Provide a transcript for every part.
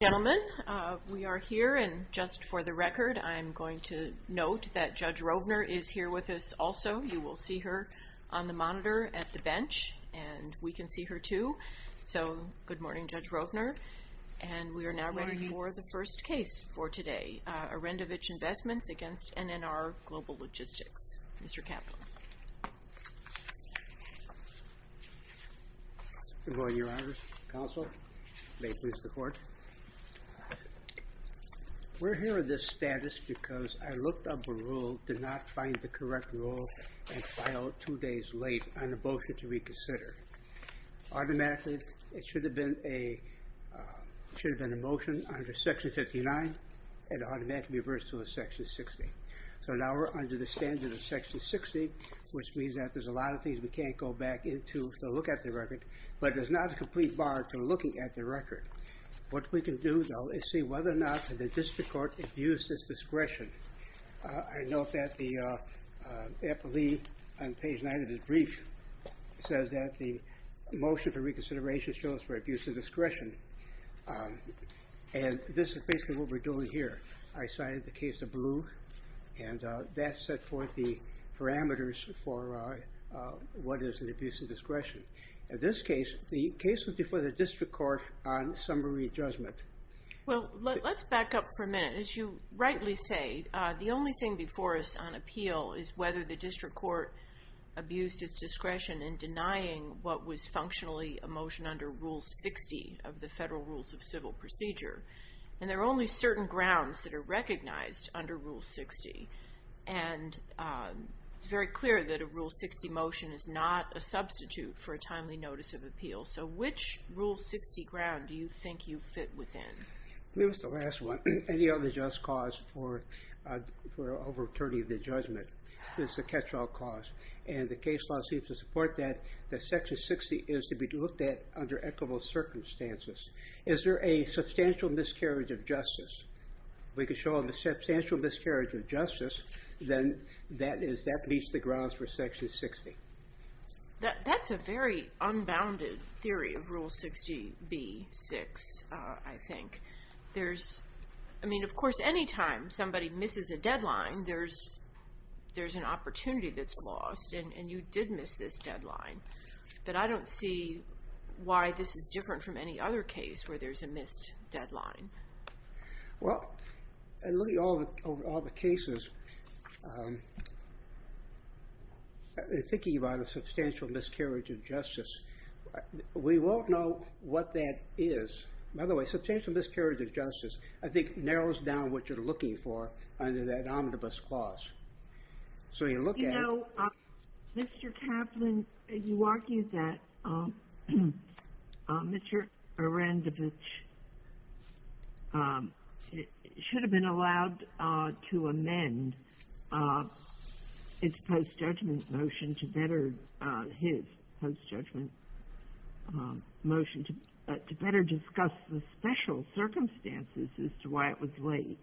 Gentlemen, we are here, and just for the record, I'm going to note that Judge Rovner is here with us also. You will see her on the monitor at the bench, and we can see her too. So good morning, Judge Rovner. Good morning. And we are now ready for the first case for today, Arendovich Investments v. NNR Global Logistics. Mr. Kaplan. Good morning, Your Honors. Counsel. May it please the Court. We're here in this status because I looked up a rule, did not find the correct rule, and filed two days late on a motion to reconsider. Automatically, it should have been a motion under Section 59, and automatically reversed to Section 60. So now we're under the standard of Section 60, which means that there's a lot of things we can't go back into to look at the record, but there's not a complete bar to looking at the record. What we can do, though, is see whether or not the district court abused its discretion. I note that the epilee on page 9 of this brief says that the motion for reconsideration shows for abuse of discretion, and this is basically what we're doing here. I cited the case of Blue, and that set forth the parameters for what is an abuse of discretion. In this case, the case was before the district court on summary judgment. Well, let's back up for a minute. As you rightly say, the only thing before us on appeal is whether the district court abused its discretion in denying what was functionally a motion under Rule 60 of the Federal Rules of Civil Procedure, and there are only certain grounds that are recognized under Rule 60, and it's very clear that a Rule 60 motion is not a substitute for a timely notice of appeal. So which Rule 60 ground do you think you fit within? This is the last one. Any other just cause for overturning the judgment is a catch-all cause, and the case law seems to support that, that Section 60 is to be looked at under equitable circumstances. Is there a substantial miscarriage of justice? If we could show a substantial miscarriage of justice, then that meets the grounds for Section 60. That's a very unbounded theory of Rule 60b-6, I think. I mean, of course, any time somebody misses a deadline, there's an opportunity that's lost, and you did miss this deadline. But I don't see why this is different from any other case where there's a missed deadline. Well, in looking at all the cases, thinking about a substantial miscarriage of justice, we won't know what that is. By the way, substantial miscarriage of justice, I think, narrows down what you're looking for under that omnibus clause. So you look at it. You know, Mr. Kaplan, you argue that Mr. Arendovitch should have been allowed to amend its post-judgment motion to better his post-judgment motion, to better discuss the special circumstances as to why it was late.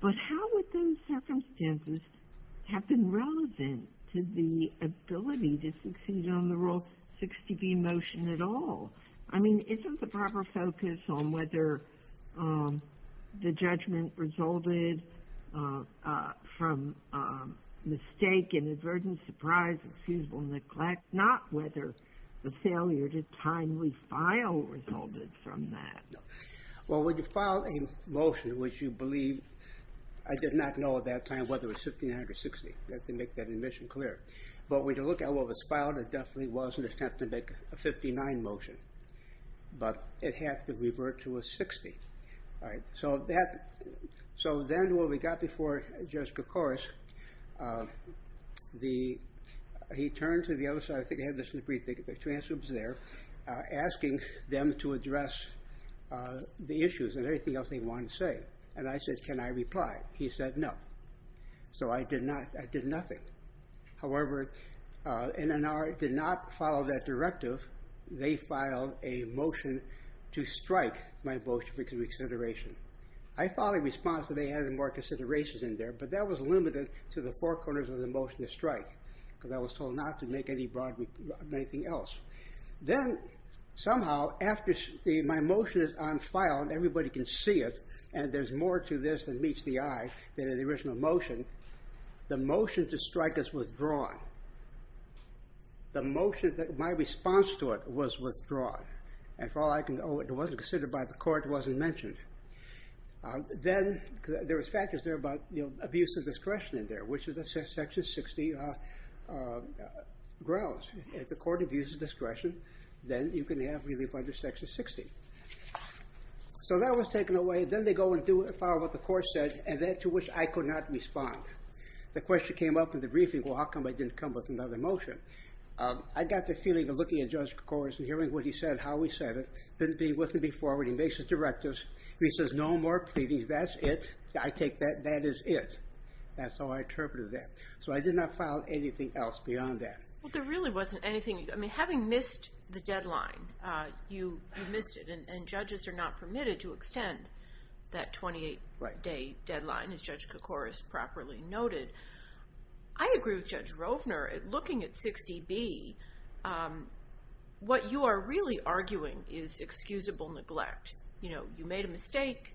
But how would those circumstances have been relevant to the ability to succeed on the Rule 60b motion at all? I mean, isn't the proper focus on whether the judgment resulted from mistake, inadvertent surprise, excusable neglect, not whether the failure to timely file resulted from that? Well, when you file a motion, which you believe... I did not know at that time whether it was 59 or 60. I have to make that admission clear. But when you look at what was filed, it definitely was an attempt to make a 59 motion. But it had to revert to a 60. So then when we got before Judge Koukouros, he turned to the other side. I think I have this in the brief. I think the transcript is there, asking them to address the issues and everything else they wanted to say. And I said, can I reply? He said no. So I did nothing. However, NNR did not follow that directive. They filed a motion to strike my motion for reconsideration. I filed a response that they had more considerations in there, but that was limited to the four corners of the motion to strike, because I was told not to make anything else. Then, somehow, after my motion is on file and everybody can see it, and there's more to this than meets the eye than in the original motion, the motion to strike is withdrawn. My response to it was withdrawn. It wasn't considered by the court. It wasn't mentioned. Then there were factors there about abuse of discretion in there, which is the Section 60 grounds. If the court abuses discretion, then you can have relief under Section 60. So that was taken away. Then they go and follow what the court said, and that to which I could not respond. The question came up in the briefing, well, how come I didn't come up with another motion? I got the feeling of looking at Judge Kouros and hearing what he said, how he said it. Didn't agree with me before when he makes his directives. He says, no more pleadings. That's it. I take that. That is it. That's how I interpreted that. So I did not file anything else beyond that. Well, there really wasn't anything. I mean, having missed the deadline, you missed it, and judges are not permitted to extend that 28-day deadline, as Judge Kouros properly noted. I agree with Judge Rovner. Looking at 60B, what you are really arguing is excusable neglect. You know, you made a mistake.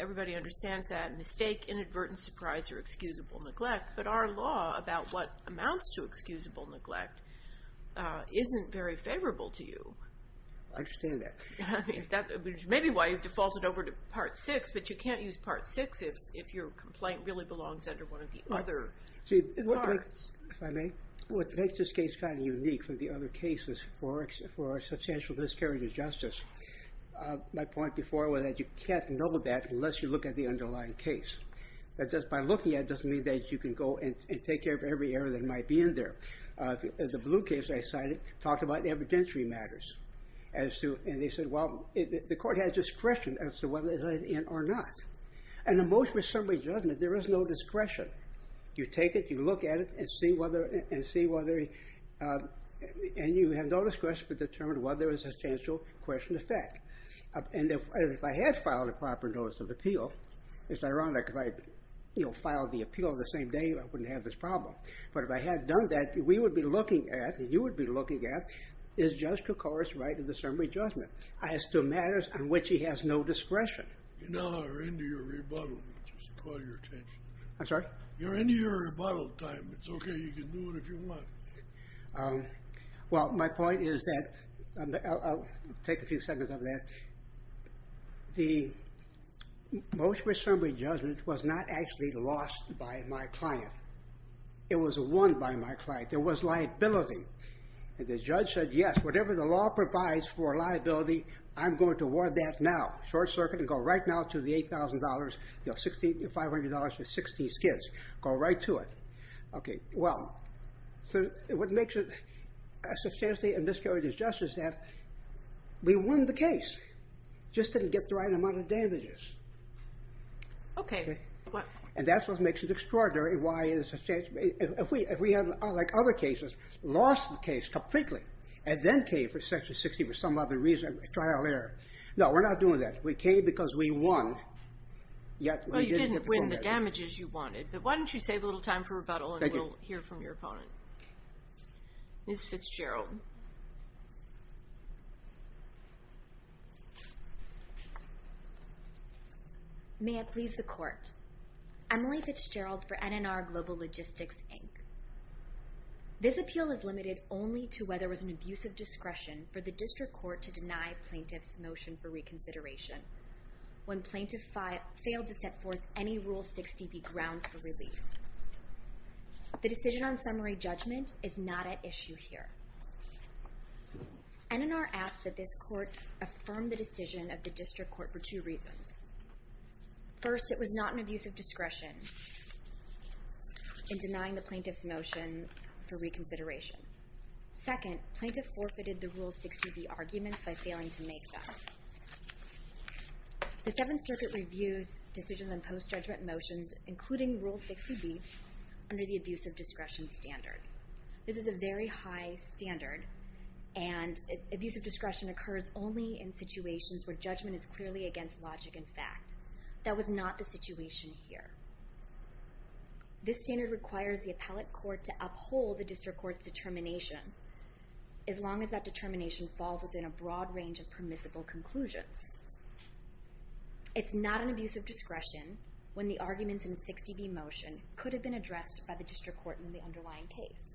Everybody understands that. A mistake, inadvertent surprise, or excusable neglect. But our law about what amounts to excusable neglect isn't very favorable to you. I understand that. Maybe why you defaulted over to Part VI, but you can't use Part VI if your complaint really belongs under one of the other parts. If I may, what makes this case kind of unique from the other cases for substantial miscarriage of justice, my point before was that you can't know that unless you look at the underlying case. That just by looking at it doesn't mean that you can go and take care of every error that might be in there. The blue case I cited talked about evidentiary matters. And they said, well, the court has discretion as to whether it's in or not. And the most reasonable judgment, there is no discretion. You take it, you look at it, and see whether, and you have no discretion as to determine whether there is a substantial question of fact. And if I had filed a proper notice of appeal, it's ironic because if I had filed the appeal the same day, I wouldn't have this problem. But if I had done that, we would be looking at, and you would be looking at, is Judge Koukouras right in the summary judgment as to matters on which he has no discretion? You're now into your rebuttal. Just call your attention. I'm sorry? You're into your rebuttal time. It's okay. You can do it if you want. Well, my point is that, I'll take a few seconds on that. The motion for summary judgment was not actually lost by my client. It was won by my client. There was liability. And the judge said, yes, whatever the law provides for liability, I'm going to award that now, short circuit, and go right now to the $8,000, $5,000 for 60 skids. Go right to it. Okay. Well, what makes it substantially and mysteriously just is that we won the case, just didn't get the right amount of damages. Okay. And that's what makes it extraordinary. If we had, like other cases, lost the case completely and then came for Section 60 for some other reason, trial error. No, we're not doing that. We came because we won. Well, you didn't win the damages you wanted, but why don't you save a little time for rebuttal, and we'll hear from your opponent. Ms. Fitzgerald. May it please the court. Emily Fitzgerald for NNR Global Logistics, Inc. This appeal is limited only to whether it was an abuse of discretion for the district court to deny plaintiff's motion for reconsideration. When plaintiff failed to set forth any Rule 60B grounds for relief. The decision on summary judgment is not at issue here. NNR asked that this court affirm the decision of the district court for two reasons. First, it was not an abuse of discretion in denying the plaintiff's motion for reconsideration. Second, plaintiff forfeited the Rule 60B arguments by failing to make them. The Seventh Circuit reviews decisions on post-judgment motions, including Rule 60B, under the abuse of discretion standard. This is a very high standard, and abuse of discretion occurs only in situations where judgment is clearly against logic and fact. That was not the situation here. This standard requires the appellate court to uphold the district court's determination, as long as that determination falls within a broad range of permissible conclusions. It's not an abuse of discretion when the arguments in a 60B motion could have been addressed by the district court in the underlying case.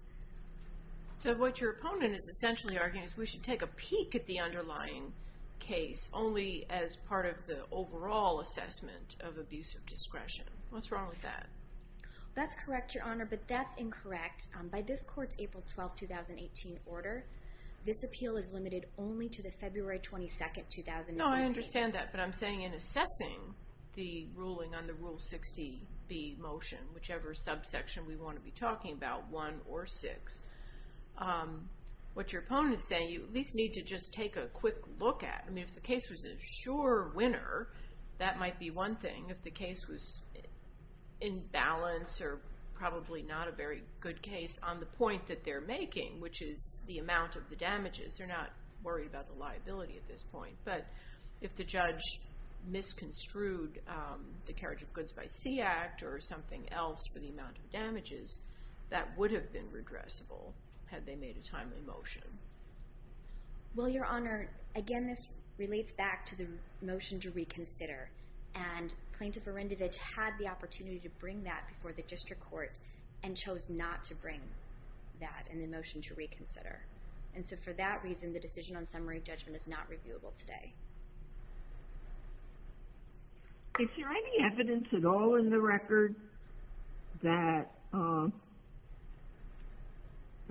So what your opponent is essentially arguing is we should take a peek at the underlying case only as part of the overall assessment of abuse of discretion. What's wrong with that? That's correct, Your Honor, but that's incorrect. By this court's April 12, 2018, order, this appeal is limited only to the February 22, 2018. No, I understand that, but I'm saying in assessing the ruling on the Rule 60B motion, whichever subsection we want to be talking about, 1 or 6, what your opponent is saying, you at least need to just take a quick look at it. I mean, if the case was a sure winner, that might be one thing. If the case was in balance or probably not a very good case on the point that they're making, which is the amount of the damages, they're not worried about the liability at this point. But if the judge misconstrued the Carriage of Goods by Sea Act or something else for the amount of damages, that would have been redressable had they made a timely motion. Well, Your Honor, again, this relates back to the motion to reconsider. And Plaintiff Arendovitch had the opportunity to bring that before the district court and chose not to bring that in the motion to reconsider. And so for that reason, the decision on summary judgment is not reviewable today. Is there any evidence at all in the record that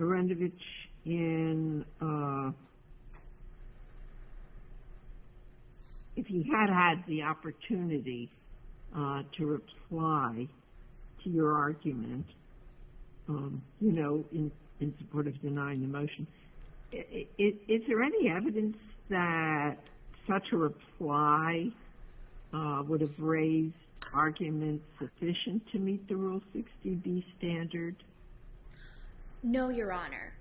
Arendovitch in if he had had the opportunity to reply to your argument, you know, in support of denying the motion, is there any evidence that such a reply would have raised arguments sufficient to meet the Rule 60B standard? No, Your Honor.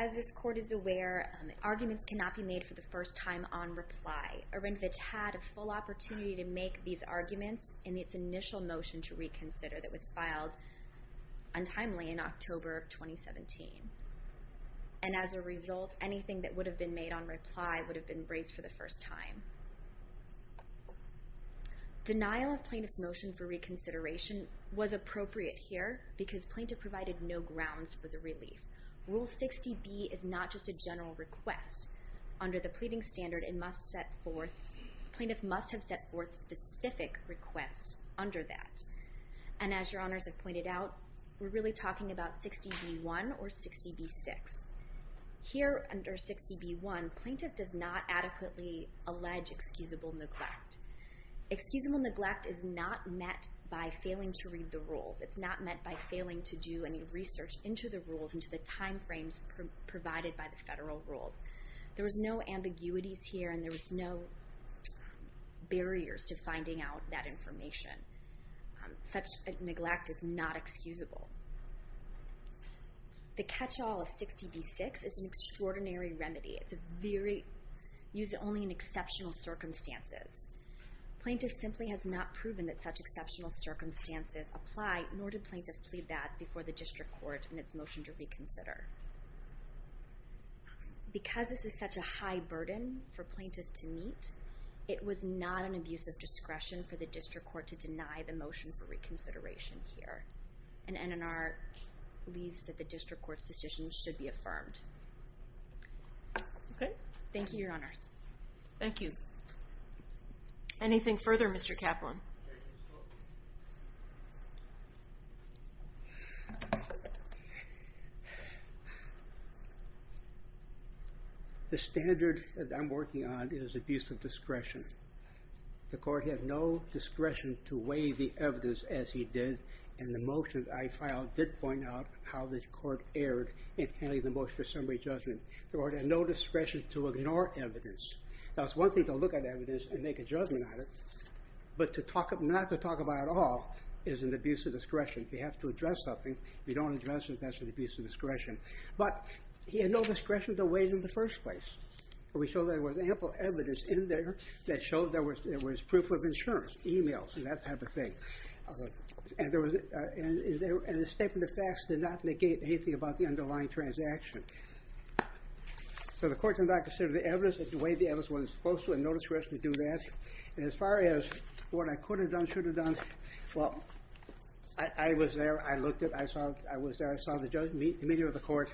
As this Court is aware, arguments cannot be made for the first time on reply. Arendovitch had a full opportunity to make these arguments in its initial motion to reconsider that was filed untimely in October of 2017. And as a result, anything that would have been made on reply would have been raised for the first time. Denial of plaintiff's motion for reconsideration was appropriate here because plaintiff provided no grounds for the relief. Rule 60B is not just a general request. Under the pleading standard, it must set forth, plaintiff must have set forth specific requests under that. And as Your Honors have pointed out, we're really talking about 60B1 or 60B6. Here under 60B1, plaintiff does not adequately allege excusable neglect. Excusable neglect is not met by failing to read the rules. It's not met by failing to do any research into the rules, into the timeframes provided by the federal rules. There was no ambiguities here, and there was no barriers to finding out that information. Such neglect is not excusable. The catch-all of 60B6 is an extraordinary remedy. It's used only in exceptional circumstances. Plaintiff simply has not proven that such exceptional circumstances apply, nor did plaintiff plead that before the district court in its motion to reconsider. Because this is such a high burden for plaintiff to meet, it was not an abuse of discretion for the district court to deny the motion for reconsideration here. And NNR believes that the district court's decision should be affirmed. Thank you, Your Honors. Thank you. Anything further, Mr. Kaplan? The standard that I'm working on is abuse of discretion. The court had no discretion to weigh the evidence, as he did, and the motion that I filed did point out how the court erred in handling the motion for summary judgment. The court had no discretion to ignore evidence. Now, it's one thing to look at evidence and make a judgment on it, but one thing not to talk about at all is an abuse of discretion. If you have to address something, if you don't address it, that's an abuse of discretion. But he had no discretion to weigh it in the first place. We showed there was ample evidence in there that showed there was proof of insurance, e-mails and that type of thing. And the statement of facts did not negate anything about the underlying transaction. So the court did not consider the evidence, weighed the evidence when it was supposed to and no discretion to do that. And as far as what I could have done, should have done, well, I was there. I looked at it. I saw it. I was there. I saw the meeting with the court,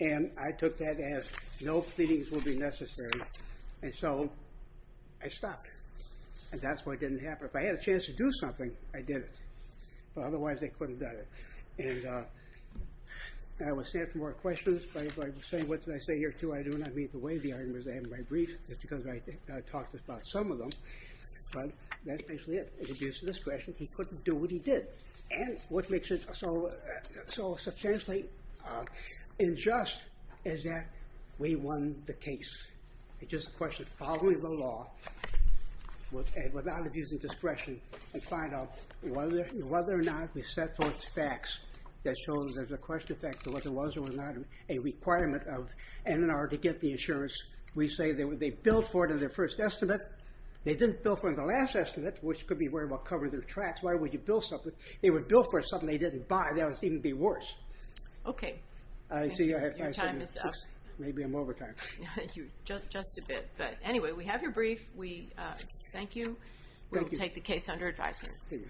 and I took that as no pleadings will be necessary. And so I stopped it. And that's why it didn't happen. If I had a chance to do something, I did it. But otherwise, they couldn't have done it. And I will stand for more questions. But as I was saying, what did I say here, too? I do not mean to weigh the arguments I have in my brief, just because I talked about some of them. But that's basically it. It's abuse of discretion. He couldn't do what he did. And what makes it so substantially unjust is that we won the case. It's just a question of following the law without abusing discretion and find out whether or not we set forth facts that show that there's a question of whether there was or was not a requirement of N&R to get the insurance. We say they billed for it in their first estimate. They didn't bill for it in the last estimate, which could be worried about covering their tracks. Why would you bill for something they didn't buy? That would seem to be worse. Okay. Your time is up. Maybe I'm over time. Just a bit. But anyway, we have your brief. Thank you. We will take the case under advisement. Thank you.